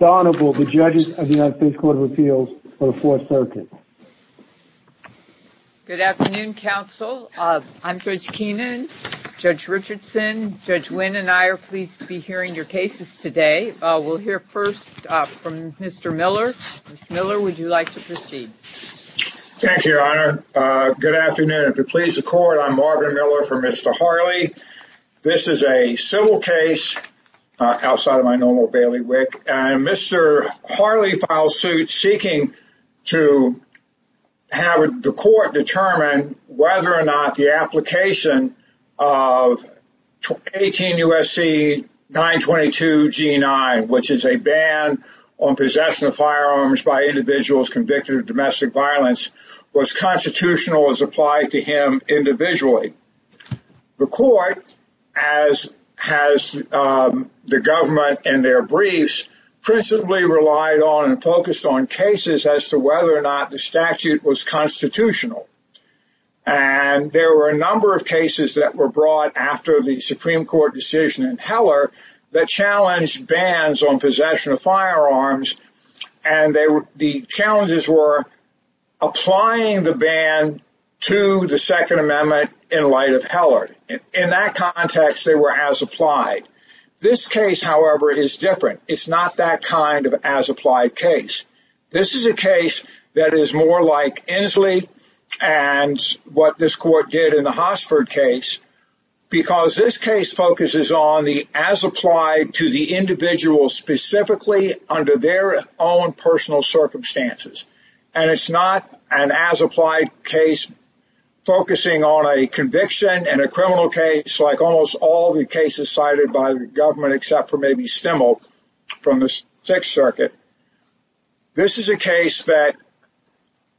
Honorable, the judges of the United States Court of Appeals for the Fourth Circuit. Good afternoon, counsel. I'm Judge Keenan. Judge Richardson, Judge Wynn, and I are pleased to be hearing your cases today. We'll hear first from Mr. Miller. Mr. Miller, would you like to proceed? Thank you, Your Honor. Good afternoon. If it pleases the court, I'm Marvin Miller for Mr. Harley. This is a civil case, outside of my normal bailiwick, and Mr. Harley filed suit seeking to have the court determine whether or not the application of 18 U.S.C. 922 G9, which is a ban on possessing firearms by individuals convicted of domestic violence, was constitutional as applied to him individually. The court, as has the government in their briefs, principally relied on and focused on cases as to whether or not the statute was constitutional. And there were a number of cases that were brought after the Supreme Court's bans on possession of firearms, and the challenges were applying the ban to the Second Amendment in light of Heller. In that context, they were as applied. This case, however, is different. It's not that kind of as applied case. This is a case that is more like Inslee and what this court did in the Hossford case, because this case focuses on the as applied to the individual specifically under their own personal circumstances. And it's not an as applied case focusing on a conviction in a criminal case like almost all the cases cited by the government, except for maybe Stimmel from the Sixth Circuit. This is a case that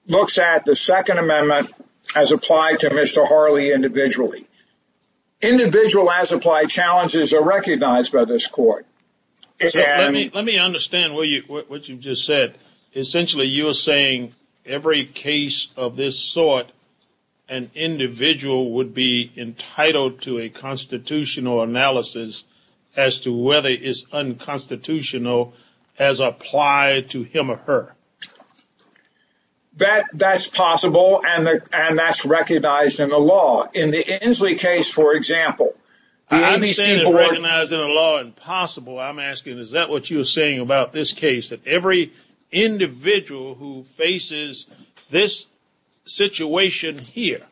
looks at the Second Amendment as applied to Mr. Harley individually. Individual as applied challenges are recognized by this court. Let me understand what you just said. Essentially, you're saying every case of this sort, an individual would be entitled to a constitutional analysis as to whether it's unconstitutional as applied to him or her. That's possible, and that's recognized in the law. In the Inslee case, for example... I'm not saying it's recognized in the law and possible. I'm asking, is that what you were saying about this case, that every individual who faces this situation here,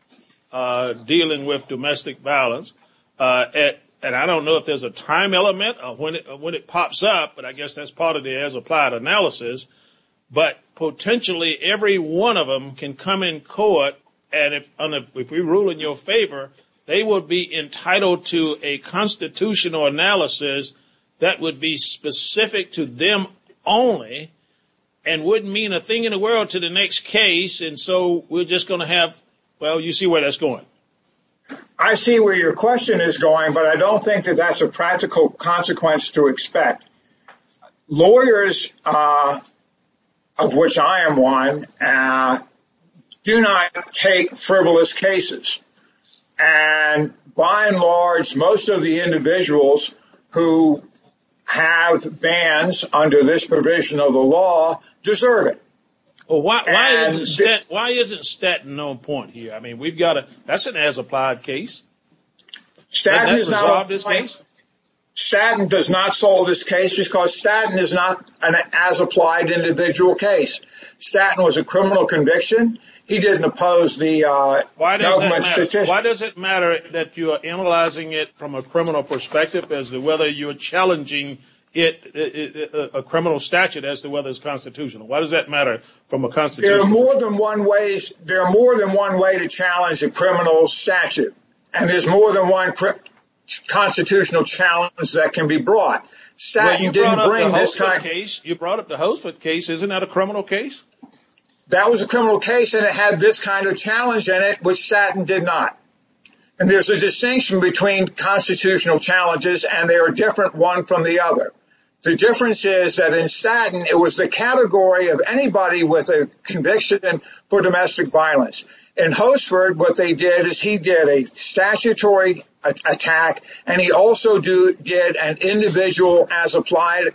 dealing with domestic violence, and I don't know if there's a time element of when it pops up, but I guess that's part of the as applied analysis, but potentially every one of them can come in court, and if we rule in your favor, they will be entitled to a constitutional analysis that would be specific to them only and wouldn't mean a thing in the world to the next case. And so we're just going to have... Well, you see where that's going. I see where your question is going, but I don't think that that's a practical consequence to expect. Lawyers, of which I am one, do not take frivolous cases, and by and large, most of the individuals who have bans under this provision of the law deserve it. Well, why isn't Statton on point here? I mean, that's an as applied case. Has that resolved this case? Statton does not solve this case because Statton is not an as applied individual case. Statton was a criminal conviction. He didn't oppose the government's... Why does it matter that you are analyzing it from a criminal perspective as to whether you are challenging it, a criminal statute, as to whether it's constitutional? Why does that matter from a constitutional... There are more than one way to challenge a criminal statute. And there's more than one constitutional challenge that can be brought. Well, you brought up the Holford case. Isn't that a criminal case? That was a criminal case, and it had this kind of challenge in it, which Statton did not. And there's a distinction between constitutional challenges, and they are different one from the other. The difference is that in Statton, it was the category of anybody with a conviction for domestic violence. In Holford, what they did is he did a statutory attack, and he also did an individual as applied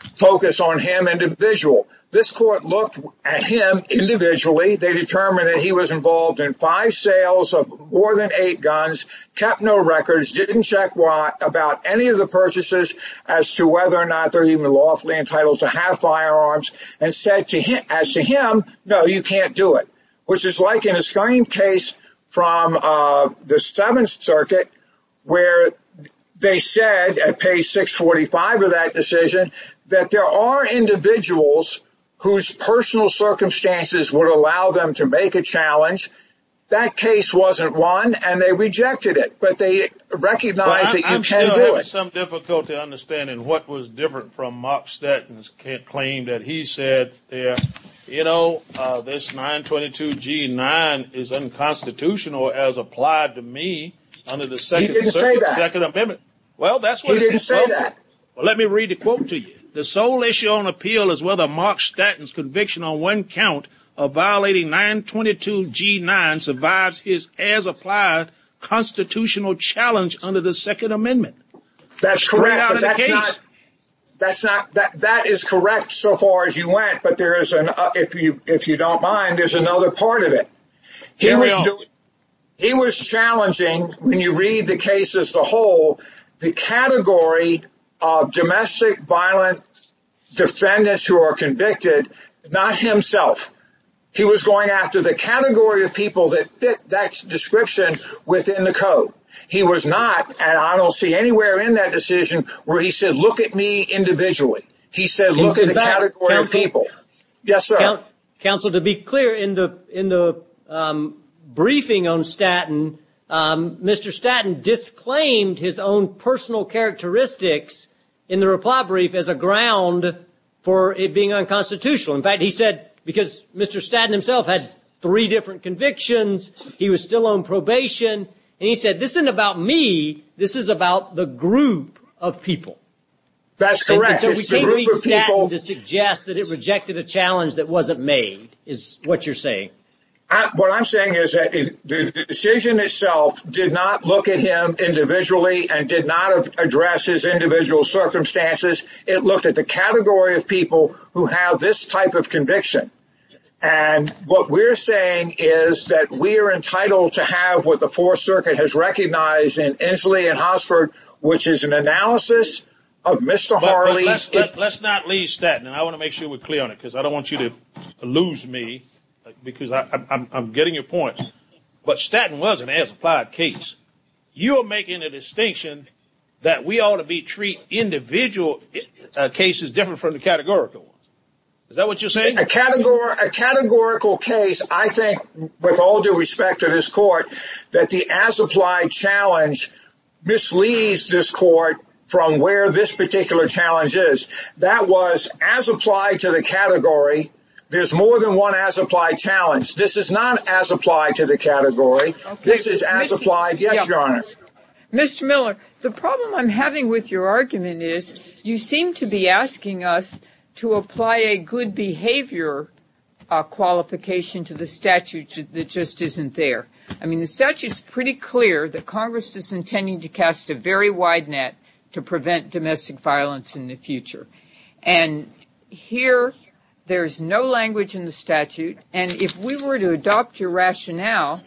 focus on him individual. This court looked at him individually. They determined that he was involved in five sales of more than eight guns, kept no records, didn't check about any of the purchases as to whether or not they're even lawfully entitled to have firearms, and said to him, as to him, no, you can't do it, which is like in the same case from the Seventh Circuit, where they said at page 645 of that decision that there are individuals whose personal circumstances would allow them to make a challenge. That case wasn't won, and they rejected it, but they recognized that you can't do it. I'm still having some difficulty understanding what was different from Mark Statton's claim that he said, you know, this 922G9 is unconstitutional as applied to me under the Second Amendment. He didn't say that. Well, that's what he said. He didn't say that. Well, let me read the quote to you. The sole issue on appeal is whether Mark Statton's conviction on one count of violating 922G9 survives his as applied constitutional challenge under the Second Amendment. That's correct. That is correct so far as you went, but if you don't mind, there's another part of it. Here we are. He was challenging, when you read the case as a whole, the category of domestic violence defendants who are convicted, not himself. He was going after the category of people that fit that description within the code. He was not, and I don't see anywhere in that decision where he said, look at me individually. He said, look at the category of people. Counsel, to be clear, in the briefing on Statton, Mr. Statton disclaimed his own personal characteristics in the reply brief as a ground for it being unconstitutional. In fact, he said, because Mr. Statton himself had three different convictions, he was still on probation, and he said, this isn't about me. This is about the group of people. That's correct. We can't use Statton to suggest that it rejected a challenge that wasn't made, is what you're saying. What I'm saying is that the decision itself did not look at him individually and did not address his individual circumstances. It looked at the category of people who have this type of conviction, and what we're saying is that we are entitled to have what the Fourth Circuit has recognized in Inslee and Hosford, which is an analysis of Mr. Harley. Let's not leave Statton, and I want to make sure we're clear on it, because I don't want you to lose me, because I'm getting your point. But Statton was an as-applied case. You are making a distinction that we ought to treat individual cases different from the categorical. Is that what you're saying? A categorical case, I think, with all due respect to this court, that the as-applied challenge misleads this court from where this particular challenge is. That was as-applied to the category. There's more than one as-applied challenge. This is not as-applied to the category. This is as-applied. Yes, Your Honor. Mr. Miller, the problem I'm having with your argument is you seem to be asking us to apply a good behavior qualification to the statute that just isn't there. I mean, the statute's pretty clear that Congress is intending to cast a very wide net to prevent domestic violence in the future. And here, there's no language in the statute. And if we were to adopt your rationale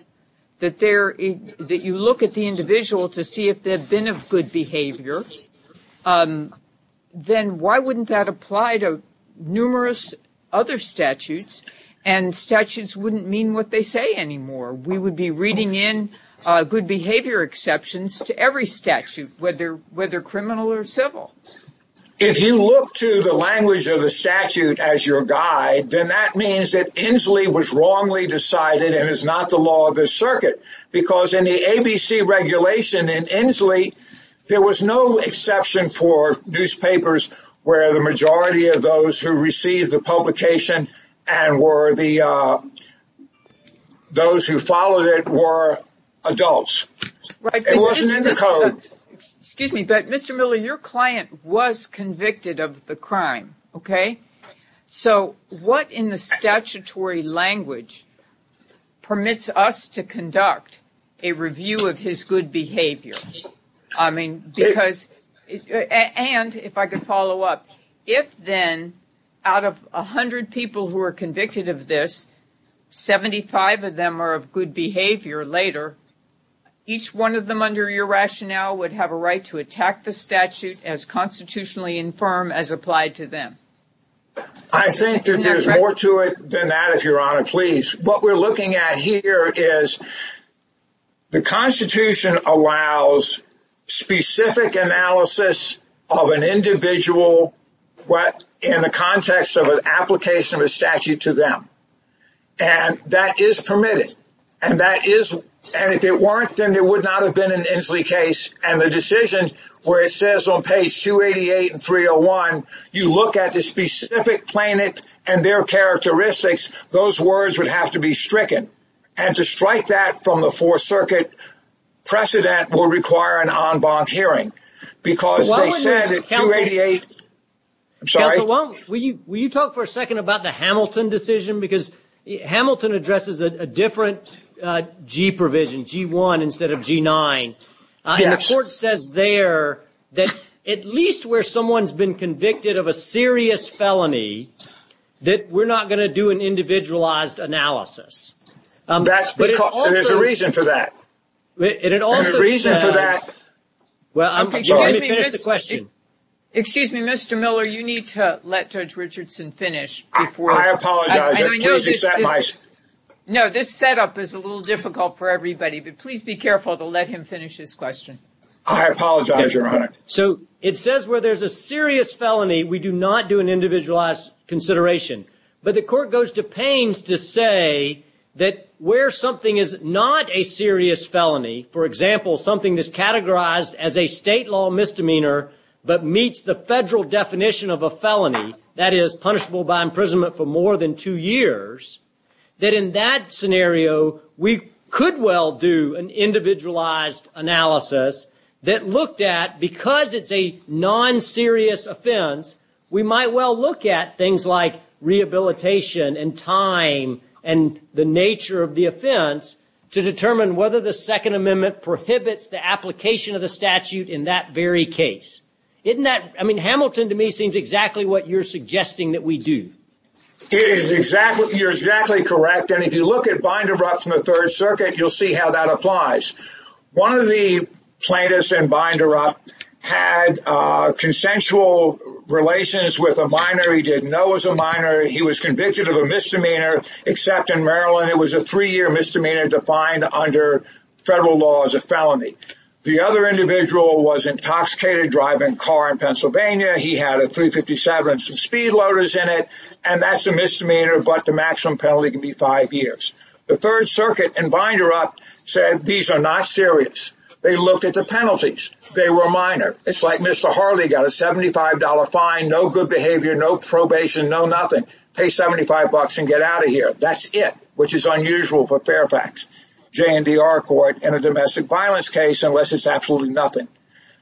that you look at the individual to see if they've been of good behavior, then why wouldn't that apply to numerous other statutes? And statutes wouldn't mean what they say anymore. We would be reading in good behavior exceptions to every statute, whether criminal or civil. If you look to the language of the statute as your guide, then that means that Inslee was wrongly decided and is not the law of the circuit. Because in the ABC regulation in Inslee, there was no exception for newspapers where the majority of those who received the publication and were the – those who followed it were adults. Right. It wasn't in the code. Excuse me, but Mr. Miller, your client was convicted of the crime, okay? So what in the statutory language permits us to conduct a review of his good behavior? I mean, because – and if I could follow up. If, then, out of 100 people who are convicted of this, 75 of them are of good behavior later, each one of them under your rationale would have a right to attack the statute as constitutionally infirm as applied to them. I think that there's more to it than that, if Your Honor, please. What we're looking at here is the Constitution allows specific analysis of an individual in the context of an application of a statute to them. And that is permitted. And that is – and if it weren't, then there would not have been an Inslee case. And the decision where it says on page 288 and 301, you look at the specific plaintiff and their characteristics, those words would have to be stricken. And to strike that from the Fourth Circuit precedent will require an en banc hearing. Because they said at 288 – I'm sorry? Will you talk for a second about the Hamilton decision? Because Hamilton addresses a different G provision, G1 instead of G9. Yes. And the court says there that at least where someone's been convicted of a serious felony, that we're not going to do an individualized analysis. That's because – there's a reason for that. And it also says – There's a reason for that. Well, let me finish the question. Excuse me, Mr. Miller. You need to let Judge Richardson finish before – I apologize. I know this is – No, this setup is a little difficult for everybody. But please be careful to let him finish his question. I apologize, Your Honor. So it says where there's a serious felony, we do not do an individualized consideration. But the court goes to pains to say that where something is not a serious felony, for example, something that's categorized as a state law misdemeanor but meets the federal definition of a felony, that is, punishable by imprisonment for more than two years, that in that scenario we could well do an individualized analysis that looked at – because it's a non-serious offense, we might well look at things like rehabilitation and time and the nature of the offense to determine whether the Second Amendment prohibits the application of the statute in that very case. I mean, Hamilton, to me, seems exactly what you're suggesting that we do. You're exactly correct. And if you look at Binderup from the Third Circuit, you'll see how that applies. One of the plaintiffs in Binderup had consensual relations with a minor he didn't know was a minor. He was convicted of a misdemeanor. Except in Maryland, it was a three-year misdemeanor defined under federal law as a felony. The other individual was intoxicated driving a car in Pennsylvania. He had a 357 and some speed loaders in it, and that's a misdemeanor, but the maximum penalty can be five years. The Third Circuit in Binderup said these are not serious. They looked at the penalties. They were minor. It's like Mr. Harley got a $75 fine, no good behavior, no probation, no nothing. Pay $75 and get out of here. That's it, which is unusual for Fairfax JNDR court in a domestic violence case unless it's absolutely nothing.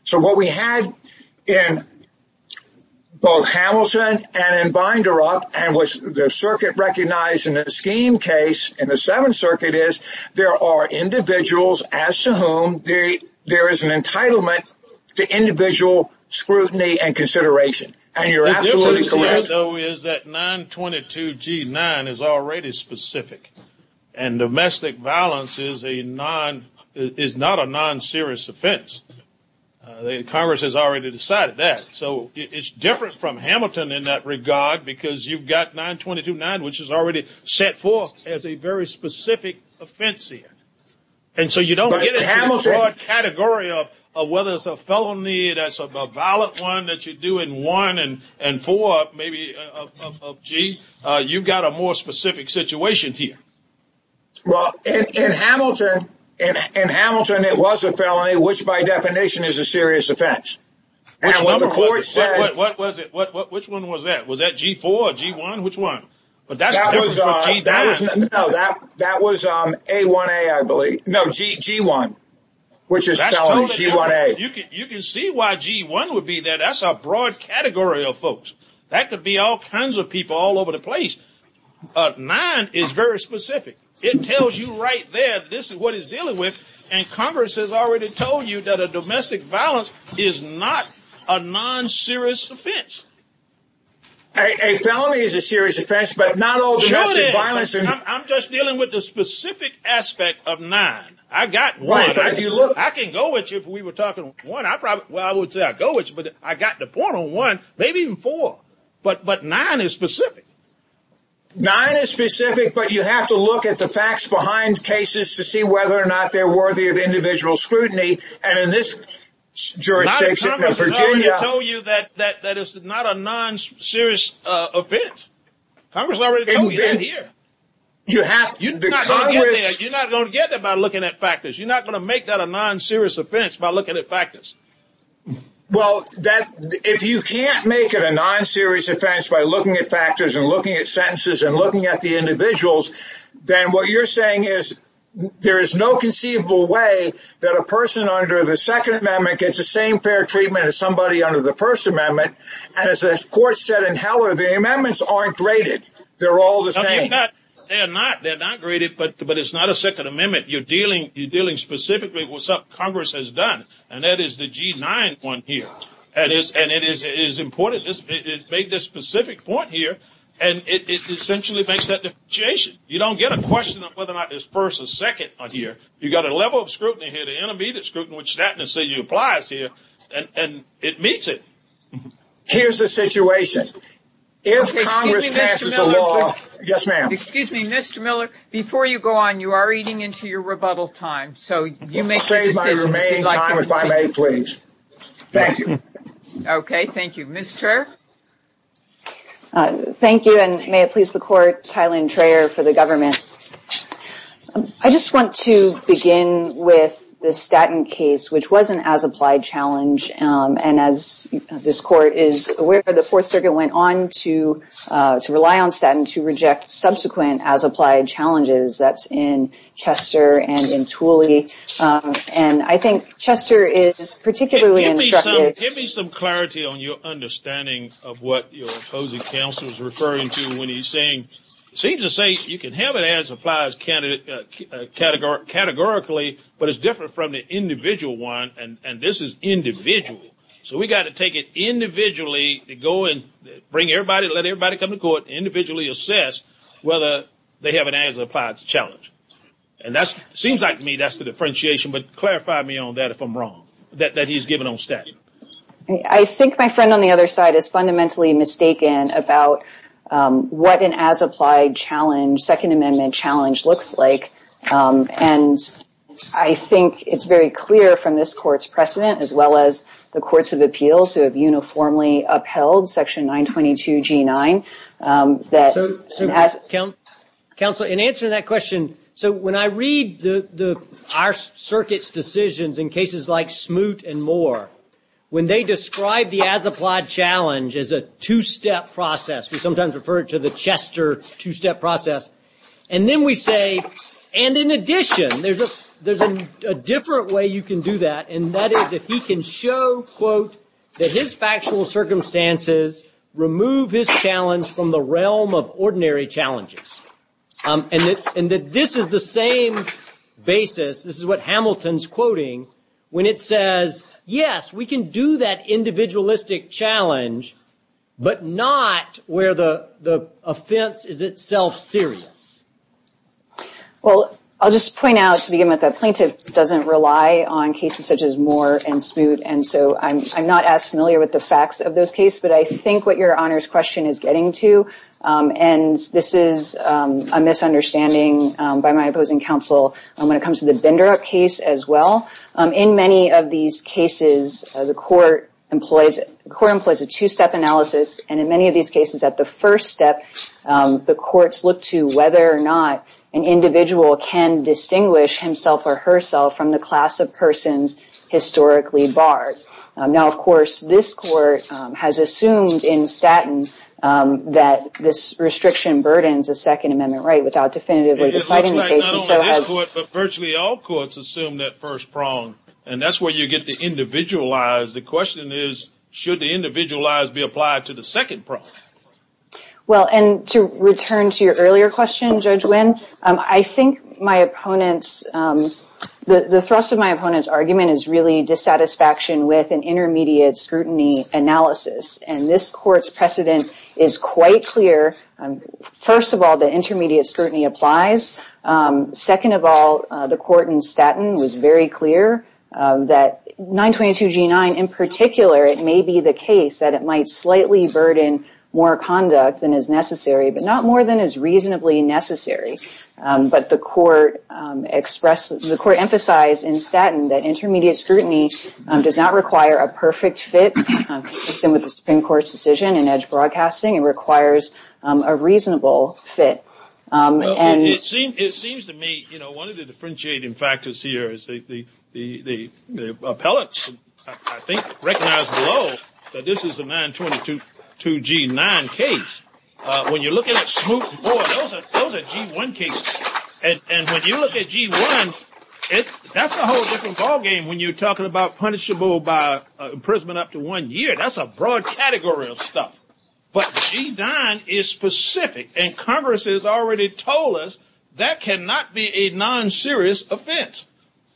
So what we had in both Hamilton and in Binderup and what the circuit recognized in the scheme case in the Seventh Circuit is there are individuals as to whom there is an entitlement to individual scrutiny and consideration. And you're absolutely correct. The problem, though, is that 922G9 is already specific, and domestic violence is not a non-serious offense. Congress has already decided that. So it's different from Hamilton in that regard because you've got 9229, which is already set forth as a very specific offense here. And so you don't get a broad category of whether it's a felony, that's a valid one that you do in 1 and 4, maybe, of G. You've got a more specific situation here. Well, in Hamilton, it was a felony, which by definition is a serious offense. And what the court said – Which one was that? Was that G4 or G1? Which one? No, that was G1, which is felony, G1A. You can see why G1 would be there. That's a broad category of folks. That could be all kinds of people all over the place. 9 is very specific. It tells you right there this is what it's dealing with, and Congress has already told you that a domestic violence is not a non-serious offense. A felony is a serious offense, but not all domestic violence. I'm just dealing with the specific aspect of 9. I can go with you if we were talking 1. Well, I would say I'd go with you, but I got the point on 1, maybe even 4. But 9 is specific. 9 is specific, but you have to look at the facts behind cases to see whether or not they're worthy of individual scrutiny. Not if Congress has already told you that it's not a non-serious offense. Congress has already told you that here. You're not going to get there by looking at factors. You're not going to make that a non-serious offense by looking at factors. Well, if you can't make it a non-serious offense by looking at factors and looking at sentences and looking at the individuals, then what you're saying is there is no conceivable way that a person under the Second Amendment gets the same fair treatment as somebody under the First Amendment. And as the court said in Heller, the amendments aren't graded. They're all the same. They're not. They're not graded, but it's not a Second Amendment. You're dealing specifically with what Congress has done. And that is the G9 one here. And it is important. It's made this specific point here, and it essentially makes that differentiation. You don't get a question of whether or not there's first or second on here. You've got a level of scrutiny here, the intermediate scrutiny, which Staten and City applies here, and it meets it. Here's the situation. If Congress passes a law – Excuse me, Mr. Miller. Yes, ma'am. Excuse me, Mr. Miller. Before you go on, you are eating into your rebuttal time, so you make a decision. Your remaining time is by May, please. Thank you. Okay. Thank you. Ms. Traer? Thank you, and may it please the Court, Tyler and Traer for the government. I just want to begin with the Staten case, which was an as-applied challenge. And as this Court is aware, the Fourth Circuit went on to rely on Staten to reject subsequent as-applied challenges. That's in Chester and in Tooley. And I think Chester is particularly instructive. Give me some clarity on your understanding of what your opposing counsel is referring to when he's saying, it seems to say you can have an as-applied categorically, but it's different from the individual one, and this is individual. So we've got to take it individually to go and bring everybody, let everybody come to court, individually assess whether they have an as-applied challenge. And that seems like to me that's the differentiation, but clarify me on that if I'm wrong, that he's given on Staten. I think my friend on the other side is fundamentally mistaken about what an as-applied challenge, Second Amendment challenge, looks like. And I think it's very clear from this Court's precedent, as well as the Courts of Appeals, who have uniformly upheld Section 922G9, that as- In answer to that question, so when I read our circuit's decisions in cases like Smoot and Moore, when they describe the as-applied challenge as a two-step process, we sometimes refer to the Chester two-step process, and then we say, and in addition, there's a different way you can do that, and that is if he can show, quote, that his factual circumstances remove his challenge from the realm of ordinary challenges. And that this is the same basis, this is what Hamilton's quoting, when it says, yes, we can do that individualistic challenge, but not where the offense is itself serious. Well, I'll just point out, to begin with, that plaintiff doesn't rely on cases such as Moore and Smoot, and so I'm not as familiar with the facts of those cases, but I think what your Honor's question is getting to, and this is a misunderstanding by my opposing counsel when it comes to the Bindrup case, as well. In many of these cases, the Court employs a two-step analysis, and in many of these cases, at the first step, the courts look to whether or not an individual can distinguish himself or herself from the class of persons historically barred. Now, of course, this Court has assumed in Statton that this restriction burdens a Second Amendment right without definitively deciding the case. It looks like not only this Court, but virtually all courts assume that first prong, and that's where you get the individualized. The question is, should the individualized be applied to the second prong? Well, and to return to your earlier question, Judge Winn, I think my opponent's, the thrust of my opponent's argument is really dissatisfaction with an intermediate scrutiny analysis, and this Court's precedent is quite clear. First of all, the intermediate scrutiny applies. Second of all, the Court in Statton was very clear that 922g9, in particular, it may be the case that it might slightly burden more conduct than is necessary, but not more than is reasonably necessary. But the Court emphasized in Statton that intermediate scrutiny does not require a perfect fit, consistent with the Supreme Court's decision in edge broadcasting. It requires a reasonable fit. It seems to me, you know, one of the differentiating factors here is the appellate, I think, recognized below that this is a 922g9 case. When you're looking at smooth board, those are g1 cases. And when you look at g1, that's a whole different ballgame when you're talking about punishable by imprisonment up to one year. That's a broad category of stuff. But g9 is specific, and Congress has already told us that cannot be a non-serious offense.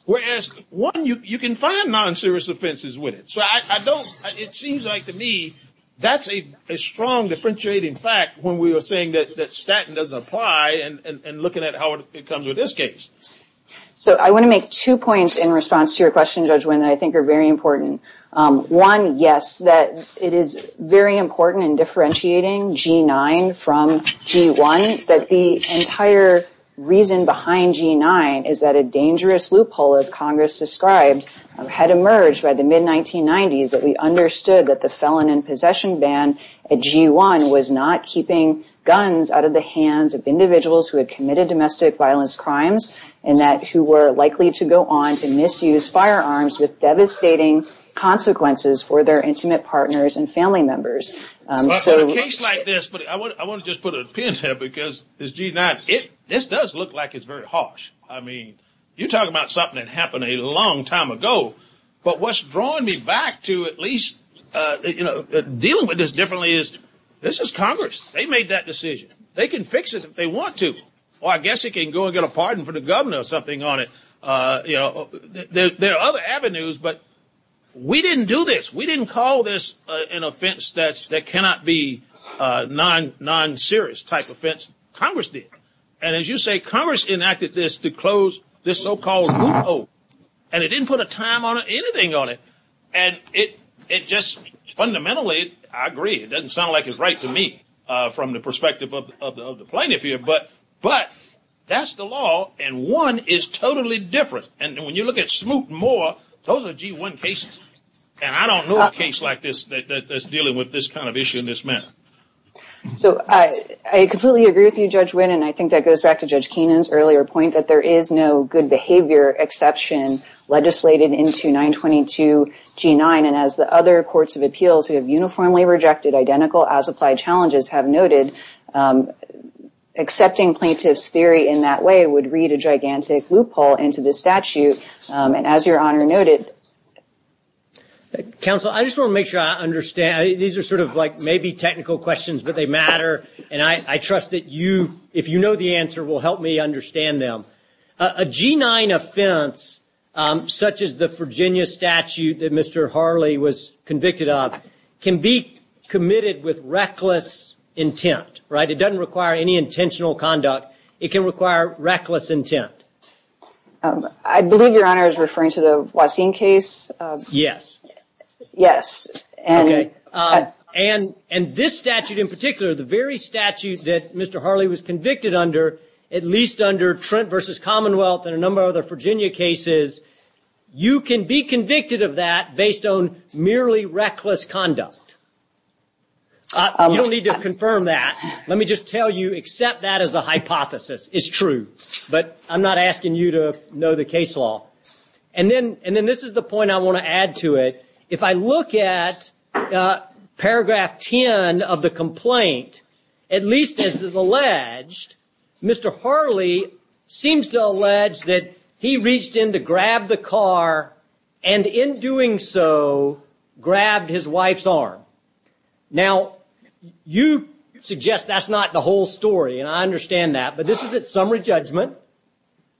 Whereas, one, you can find non-serious offenses with it. So I don't, it seems like to me that's a strong differentiating fact when we are saying that Statton doesn't apply and looking at how it comes with this case. So I want to make two points in response to your question, Judge Wynn, that I think are very important. One, yes, that it is very important in differentiating g9 from g1, that the entire reason behind g9 is that a dangerous loophole, as Congress described, had emerged by the mid-1990s that we understood that the felon in possession ban at g1 was not keeping guns out of the hands of individuals who had committed domestic violence crimes and that who were likely to go on to misuse firearms with devastating consequences for their intimate partners and family members. So in a case like this, I want to just put a pin there, because this g9, this does look like it's very harsh. I mean, you're talking about something that happened a long time ago. But what's drawing me back to at least dealing with this differently is this is Congress. They made that decision. They can fix it if they want to. Well, I guess it can go and get a pardon for the governor or something on it. There are other avenues, but we didn't do this. We didn't call this an offense that cannot be non-serious type offense. Congress did. And as you say, Congress enacted this to close this so-called loophole, and it didn't put a time on it, anything on it. And it just fundamentally, I agree, it doesn't sound like it's right to me from the perspective of the plaintiff here, but that's the law, and one is totally different. And when you look at Smoot and Moore, those are g1 cases, and I don't know a case like this that's dealing with this kind of issue in this manner. So I completely agree with you, Judge Wynn, and I think that goes back to Judge Keenan's earlier point that there is no good behavior exception legislated into 922 g9. And as the other courts of appeals who have uniformly rejected identical as applied challenges have noted, accepting plaintiff's theory in that way would read a gigantic loophole into this statute. And as your honor noted. Counsel, I just want to make sure I understand. These are sort of like maybe technical questions, but they matter. And I trust that you, if you know the answer, will help me understand them. A g9 offense, such as the Virginia statute that Mr. Harley was convicted of, can be committed with reckless intent, right? It doesn't require any intentional conduct. It can require reckless intent. I believe your honor is referring to the Waseem case. Yes. Yes. And this statute in particular, the very statute that Mr. Harley was convicted under, at least under Trent v. Commonwealth and a number of other Virginia cases, you can be convicted of that based on merely reckless conduct. You don't need to confirm that. Let me just tell you, accept that as a hypothesis. It's true. But I'm not asking you to know the case law. And then this is the point I want to add to it. If I look at paragraph 10 of the complaint, at least as is alleged, Mr. Harley seems to allege that he reached in to grab the car and in doing so grabbed his wife's arm. Now, you suggest that's not the whole story, and I understand that. But this is at summary judgment.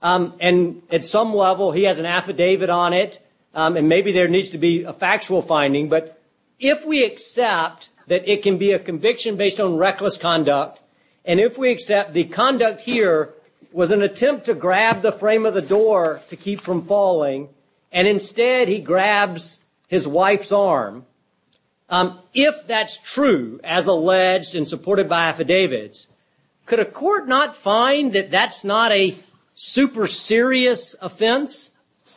And at some level he has an affidavit on it, and maybe there needs to be a factual finding. But if we accept that it can be a conviction based on reckless conduct, and if we accept the conduct here was an attempt to grab the frame of the door to keep from falling, and instead he grabs his wife's arm, if that's true, as alleged and supported by affidavits, could a court not find that that's not a super serious offense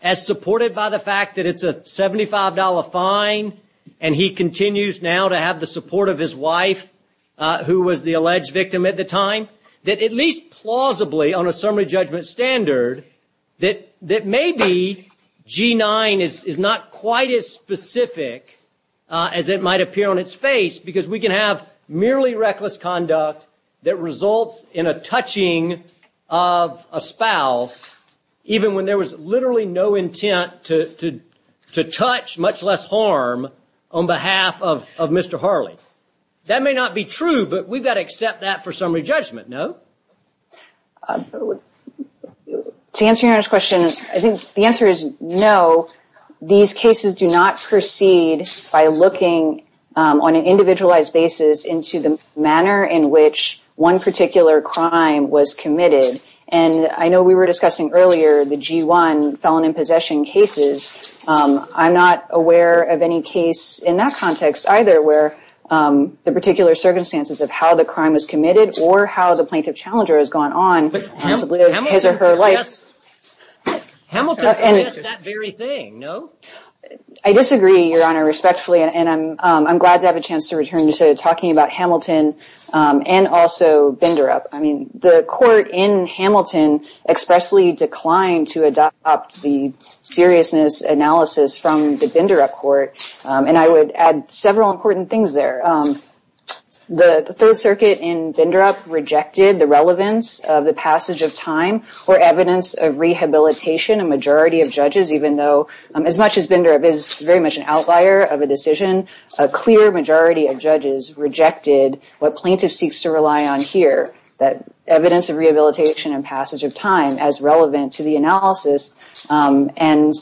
as supported by the fact that it's a $75 fine and he continues now to have the support of his wife, who was the alleged victim at the time, that at least plausibly on a summary judgment standard, that maybe G-9 is not quite as specific as it might appear on its face because we can have merely reckless conduct that results in a touching of a spouse even when there was literally no intent to touch, much less harm, on behalf of Mr. Harley. That may not be true, but we've got to accept that for summary judgment, no? To answer your question, I think the answer is no. These cases do not proceed by looking on an individualized basis into the manner in which one particular crime was committed. I know we were discussing earlier the G-1 felon in possession cases. I'm not aware of any case in that context either where the particular circumstances of how the crime was committed or how the plaintiff challenger has gone on to live his or her life. Hamilton suggests that very thing, no? I disagree, Your Honor, respectfully, and I'm glad to have a chance to return to talking about Hamilton and also Binderup. The court in Hamilton expressly declined to adopt the seriousness analysis from the Binderup court, and I would add several important things there. The Third Circuit in Binderup rejected the relevance of the passage of time or evidence of rehabilitation. A majority of judges, even though as much as Binderup is very much an outlier of a decision, a clear majority of judges rejected what plaintiff seeks to rely on here, that evidence of rehabilitation and passage of time as relevant to the analysis. And,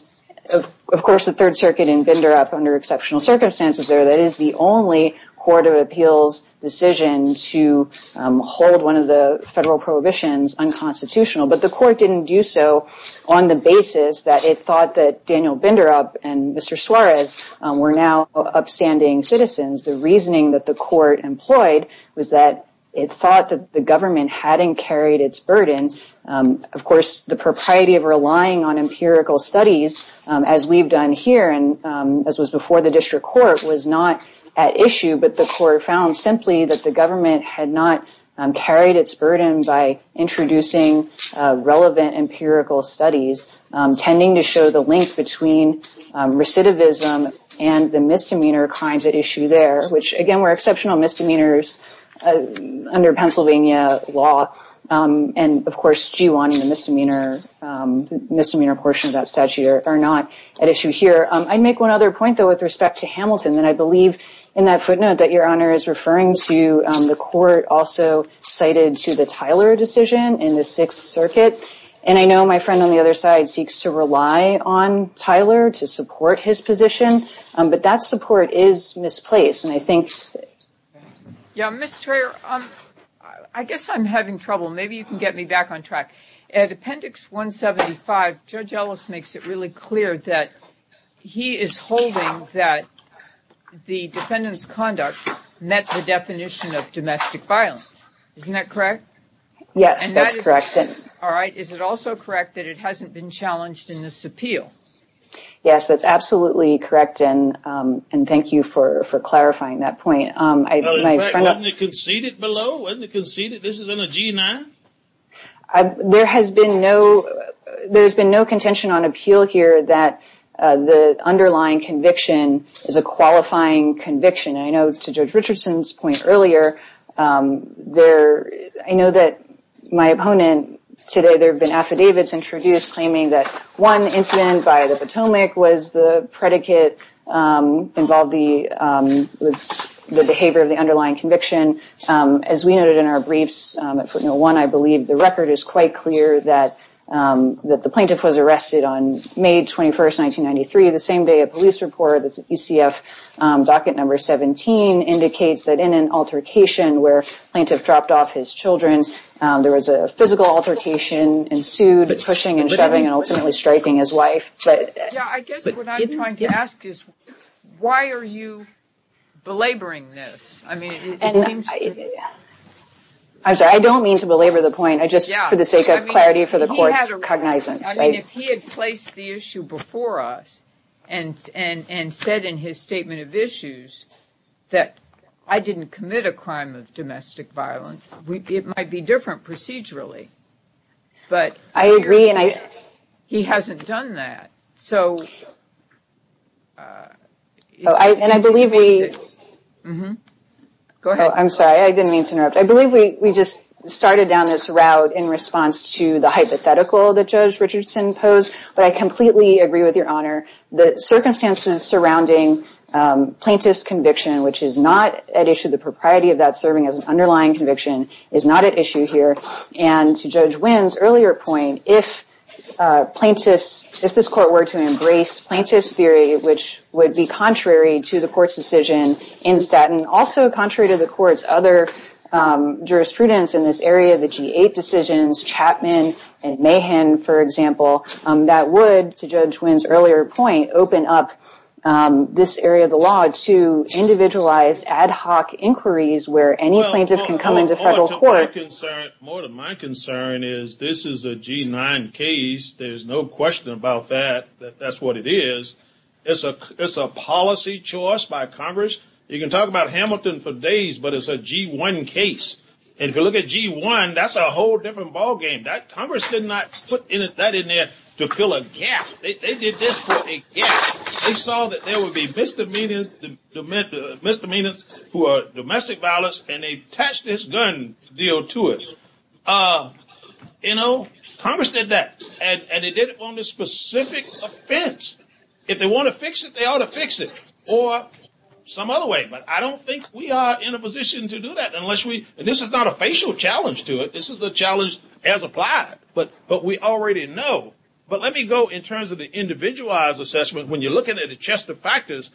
of course, the Third Circuit in Binderup, under exceptional circumstances there, that is the only court of appeals decision to hold one of the federal prohibitions unconstitutional. But the court didn't do so on the basis that it thought that Daniel Binderup and Mr. Suarez were now upstanding citizens. The reasoning that the court employed was that it thought that the government hadn't carried its burden. And, of course, the propriety of relying on empirical studies, as we've done here, and as was before the district court, was not at issue, but the court found simply that the government had not carried its burden by introducing relevant empirical studies, tending to show the link between recidivism and the misdemeanor crimes at issue there, which, again, were exceptional misdemeanors under Pennsylvania law. And, of course, G1 and the misdemeanor portion of that statute are not at issue here. I'd make one other point, though, with respect to Hamilton, and I believe in that footnote that Your Honor is referring to the court also cited to the Tyler decision in the Sixth Circuit. And I know my friend on the other side seeks to rely on Tyler to support his position, but that support is misplaced. Yeah, Ms. Traer, I guess I'm having trouble. Maybe you can get me back on track. At Appendix 175, Judge Ellis makes it really clear that he is holding that the defendant's conduct met the definition of domestic violence. Isn't that correct? Yes, that's correct. All right. Is it also correct that it hasn't been challenged in this appeal? Yes, that's absolutely correct, and thank you for clarifying that point. Well, in fact, wasn't it conceded below? This is under G9. There has been no contention on appeal here that the underlying conviction is a qualifying conviction. I know, to Judge Richardson's point earlier, I know that my opponent today, there have been affidavits introduced claiming that one incident by the Potomac was the predicate involved with the behavior of the underlying conviction. As we noted in our briefs at Footnote 1, I believe the record is quite clear that the plaintiff was arrested on May 21st, 1993, the same day a police report, ECF Docket Number 17, indicates that in an altercation where the plaintiff dropped off his children, there was a physical altercation ensued, pushing and shoving and ultimately striking his wife. I guess what I'm trying to ask is, why are you belaboring this? I'm sorry, I don't mean to belabor the point, just for the sake of clarity for the court's cognizance. I mean, if he had placed the issue before us and said in his statement of issues that I didn't commit a crime of domestic violence, it might be different procedurally, but he hasn't done that. I'm sorry, I didn't mean to interrupt. I believe we just started down this route in response to the hypothetical that Judge Richardson posed, but I completely agree with your honor. The circumstances surrounding plaintiff's conviction, which is not at issue, the propriety of that serving as an underlying conviction, is not at issue here. And to Judge Wynn's earlier point, if this court were to embrace plaintiff's theory, which would be contrary to the court's decision in Staten, also contrary to the court's other jurisprudence in this area, the G-8 decisions, Chapman and Mahan, for example, that would, to Judge Wynn's earlier point, open up this area of the law to individualized ad hoc inquiries where any plaintiff can come into federal court. More to my concern is this is a G-9 case. There's no question about that, that that's what it is. It's a policy choice by Congress. You can talk about Hamilton for days, but it's a G-1 case. And if you look at G-1, that's a whole different ballgame. Congress did not put that in there to fill a gap. They did this for a gap. They saw that there would be misdemeanors who are domestic violence, and they attached this gun deal to it. You know, Congress did that, and they did it on a specific offense. If they want to fix it, they ought to fix it, or some other way. But I don't think we are in a position to do that unless we, and this is not a facial challenge to it, this is a challenge as applied, but we already know. But let me go in terms of the individualized assessment. When you're looking at the Chester factors,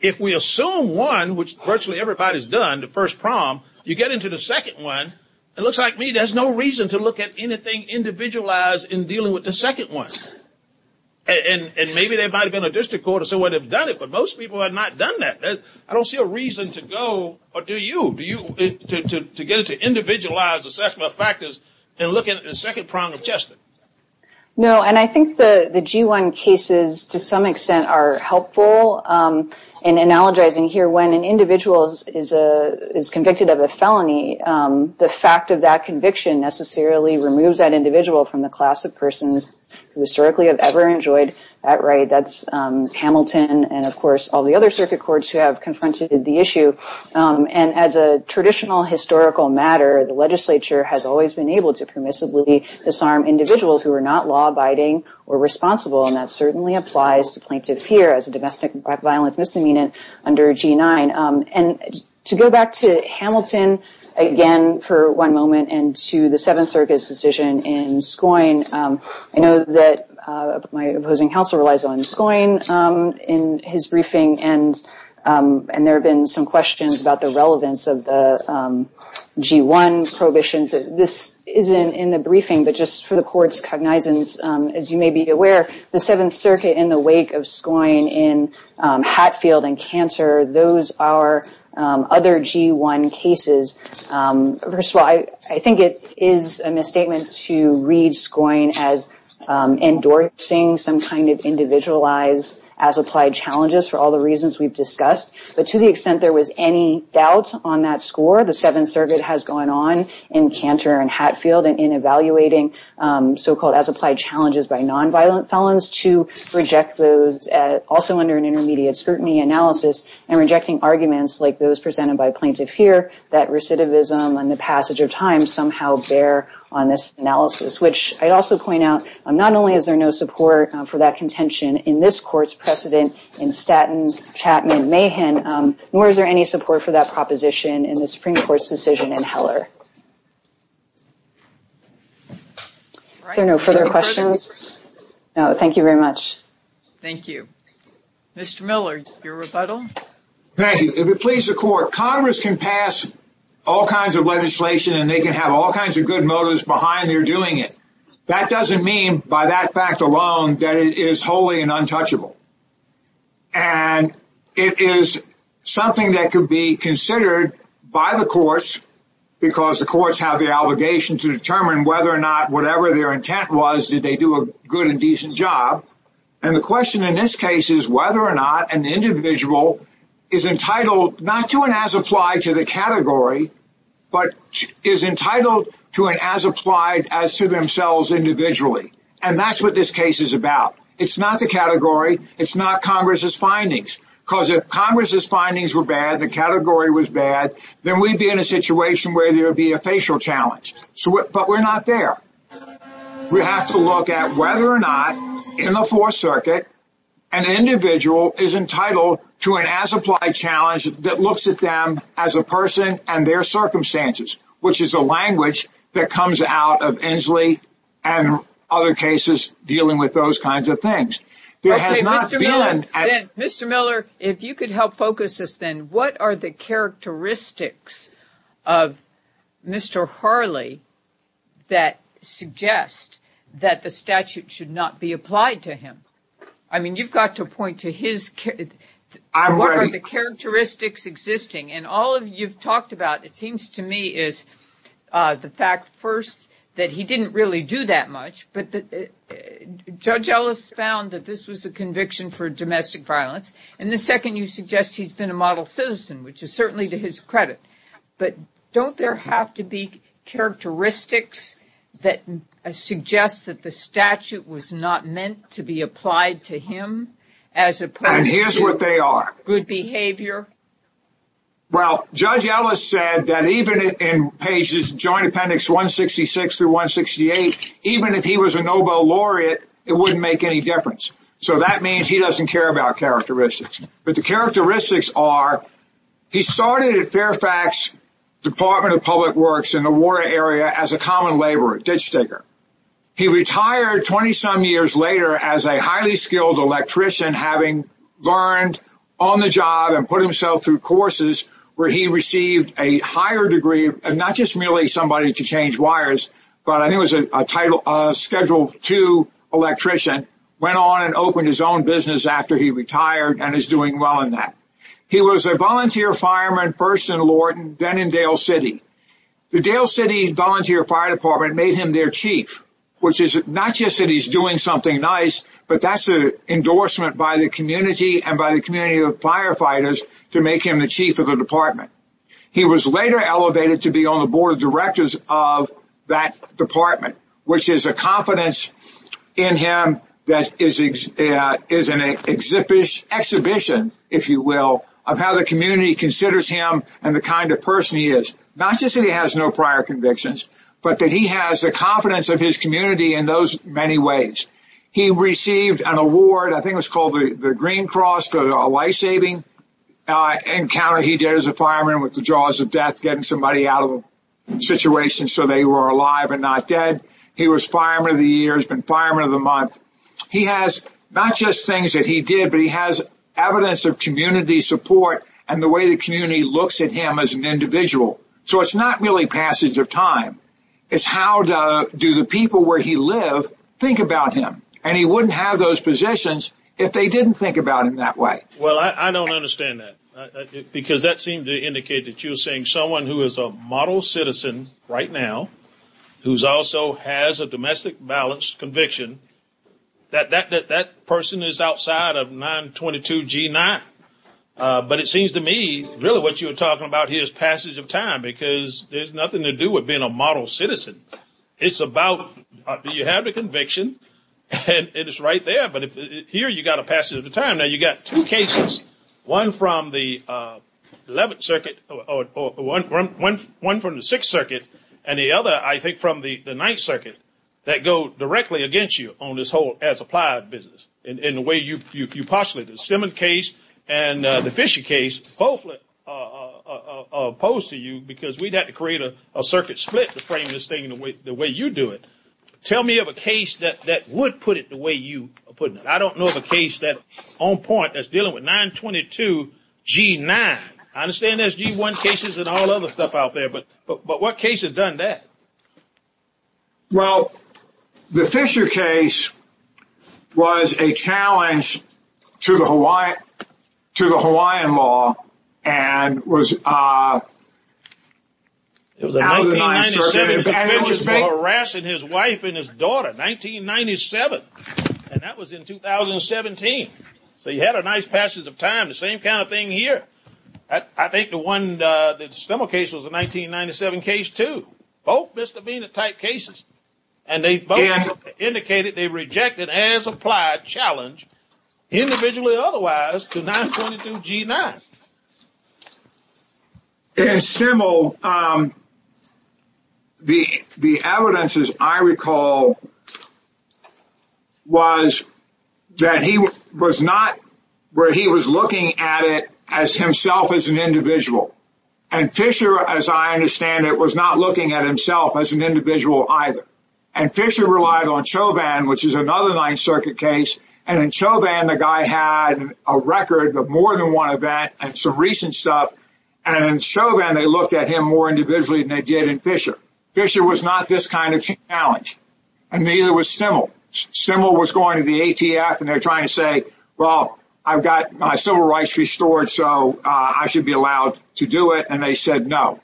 if we assume one, which virtually everybody has done, the first prong, you get into the second one, it looks like to me there's no reason to look at anything individualized in dealing with the second one. And maybe there might have been a district court or someone who has done it, but most people have not done that. I don't see a reason to go, or do you, to get into individualized assessment factors and look at the second prong of Chester. No, and I think the G1 cases, to some extent, are helpful in analogizing here when an individual is convicted of a felony, the fact of that conviction necessarily removes that individual from the class of persons who historically have ever enjoyed that right. That's Hamilton and, of course, all the other circuit courts who have confronted the issue. And as a traditional historical matter, the legislature has always been able to permissibly disarm individuals who are not law-abiding or responsible, and that certainly applies to plaintiffs here as a domestic violence misdemeanor under G9. And to go back to Hamilton again for one moment and to the Seventh Circuit's decision in Scoyne, I know that my opposing counsel relies on Scoyne in his briefing, and there have been some questions about the relevance of the G1 prohibitions. This isn't in the briefing, but just for the court's cognizance, as you may be aware, the Seventh Circuit in the wake of Scoyne in Hatfield and Cantor, those are other G1 cases. First of all, I think it is a misstatement to read Scoyne as endorsing some kind of individualized as-applied challenges for all the reasons we've discussed. But to the extent there was any doubt on that score, the Seventh Circuit has gone on in Cantor and Hatfield and in evaluating so-called as-applied challenges by nonviolent felons to reject those also under an intermediate scrutiny analysis and rejecting arguments like those presented by plaintiff here that recidivism and the passage of time somehow bear on this analysis, which I'd also point out not only is there no support for that contention in this court's precedent in Statton, Chapman, Mahan, nor is there any support for that proposition in the Supreme Court's decision in Heller. Are there no further questions? No, thank you very much. Thank you. Mr. Millard, your rebuttal. Thank you. If it pleases the Court, Congress can pass all kinds of legislation and they can have all kinds of good motives behind their doing it. That doesn't mean by that fact alone that it is wholly and untouchable. And it is something that could be considered by the courts because the courts have the obligation to determine whether or not whatever their intent was, did they do a good and decent job. And the question in this case is whether or not an individual is entitled not to an as applied to the category, but is entitled to an as applied as to themselves individually. And that's what this case is about. It's not the category. It's not Congress's findings. Because if Congress's findings were bad, the category was bad, then we'd be in a situation where there would be a facial challenge. But we're not there. We have to look at whether or not in the Fourth Circuit, an individual is entitled to an as applied challenge that looks at them as a person and their circumstances, which is a language that comes out of Inslee and other cases dealing with those kinds of things. Mr. Miller, if you could help focus us then, what are the characteristics of Mr. Harley that suggest that the statute should not be applied to him? I mean, you've got to point to his. What are the characteristics existing? And all of you've talked about, it seems to me, is the fact, first, that he didn't really do that much. But Judge Ellis found that this was a conviction for domestic violence. And the second, you suggest he's been a model citizen, which is certainly to his credit. But don't there have to be characteristics that suggest that the statute was not meant to be applied to him as opposed to good behavior? And here's what they are. Well, Judge Ellis said that even in pages, Joint Appendix 166 through 168, even if he was a Nobel laureate, it wouldn't make any difference. So that means he doesn't care about characteristics. But the characteristics are he started at Fairfax Department of Public Works in the war area as a common laborer, a ditch digger. He retired 20 some years later as a highly skilled electrician, having learned on the job and put himself through courses where he received a higher degree. And not just really somebody to change wires. But I knew it was a title schedule to electrician, went on and opened his own business after he retired and is doing well in that. He was a volunteer fireman, first in Lorton, then in Dale City. The Dale City Volunteer Fire Department made him their chief, which is not just that he's doing something nice, but that's an endorsement by the community and by the community of firefighters to make him the chief of the department. He was later elevated to be on the board of directors of that department, which is a confidence in him. That is an exhibition, if you will, of how the community considers him and the kind of person he is. Not just that he has no prior convictions, but that he has the confidence of his community in those many ways. He received an award. I think it was called the Green Cross, a lifesaving encounter. He did as a fireman with the jaws of death, getting somebody out of a situation so they were alive and not dead. He was fireman of the year, has been fireman of the month. He has not just things that he did, but he has evidence of community support and the way the community looks at him as an individual. It's not really passage of time. It's how do the people where he lived think about him. He wouldn't have those positions if they didn't think about him that way. Well, I don't understand that. Because that seemed to indicate that you're saying someone who is a model citizen right now, who also has a domestic violence conviction, that that person is outside of 922 G9. But it seems to me really what you're talking about here is passage of time, because there's nothing to do with being a model citizen. It's about do you have the conviction? And it is right there. But here you've got a passage of time. Now, you've got two cases, one from the 11th Circuit, one from the 6th Circuit, and the other, I think, from the 9th Circuit, that go directly against you on this whole as-applied business in the way you postulate it. The Stemmon case and the Fisher case both are opposed to you because we'd have to create a circuit split to frame this thing the way you do it. Tell me of a case that would put it the way you are putting it. I don't know of a case on point that's dealing with 922 G9. I understand there's G1 cases and all other stuff out there, but what case has done that? Well, the Fisher case was a challenge to the Hawaiian law and was out of the 9th Circuit. He was harassing his wife and his daughter, 1997, and that was in 2017. So you had a nice passage of time. The same kind of thing here. I think the Stemmon case was a 1997 case, too. Both misdemeanor-type cases, and they both indicated they rejected as-applied challenge, individually or otherwise, to 922 G9. In Stemmel, the evidence, as I recall, was that he was looking at it as himself as an individual. And Fisher, as I understand it, was not looking at himself as an individual either. And Fisher relied on Chauvin, which is another 9th Circuit case. And in Chauvin, the guy had a record of more than one event and some recent stuff. And in Chauvin, they looked at him more individually than they did in Fisher. Fisher was not this kind of challenge, and neither was Stemmel. Stemmel was going to the ATF, and they're trying to say, well, I've got my civil rights restored, so I should be allowed to do it. And they said no.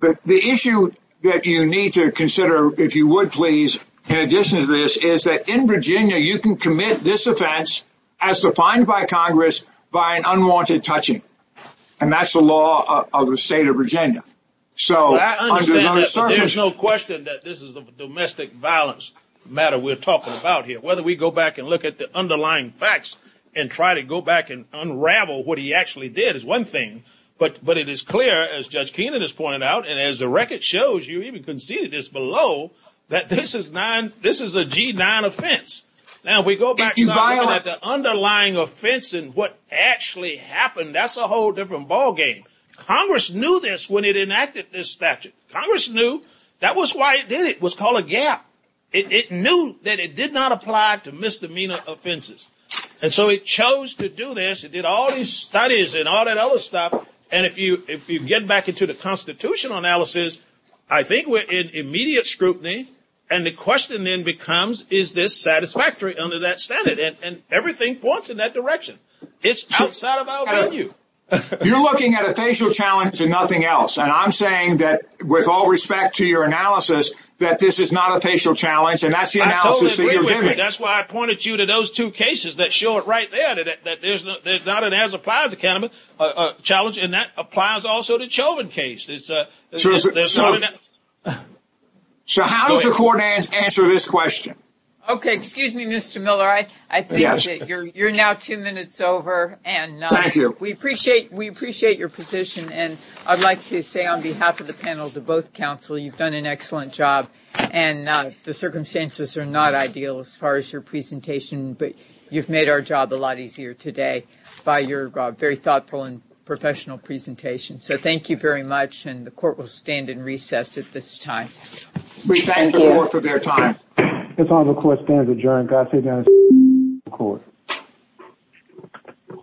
But the issue that you need to consider, if you would please, in addition to this, is that in Virginia, you can commit this offense as defined by Congress by an unwanted touching. And that's the law of the state of Virginia. So under the 9th Circuit. There's no question that this is a domestic violence matter we're talking about here. Whether we go back and look at the underlying facts and try to go back and unravel what he actually did is one thing. But it is clear, as Judge Keenan has pointed out, and as the record shows, you even conceded this below, that this is a G9 offense. Now, if we go back and look at the underlying offense and what actually happened, that's a whole different ballgame. Congress knew this when it enacted this statute. Congress knew. That was why it did it. It was called a gap. It knew that it did not apply to misdemeanor offenses. And so it chose to do this. It did all these studies and all that other stuff. And if you get back into the constitutional analysis, I think we're in immediate scrutiny. And the question then becomes, is this satisfactory under that standard? And everything points in that direction. It's outside of our value. You're looking at a facial challenge and nothing else. And I'm saying that with all respect to your analysis, that this is not a facial challenge. And that's the analysis that you're giving. That's why I pointed you to those two cases that show it right there, that there's not an as-applies challenge. And that applies also to the Chauvin case. So how does the court answer this question? Okay. Excuse me, Mr. Miller. I think that you're now two minutes over. Thank you. We appreciate your position. And I'd like to say on behalf of the panel to both counsel, you've done an excellent job. And the circumstances are not ideal as far as your presentation. But you've made our job a lot easier today by your very thoughtful and professional presentation. So thank you very much. And the court will stand in recess at this time. We thank the court for their time. This court stands adjourned. Godspeed, guys.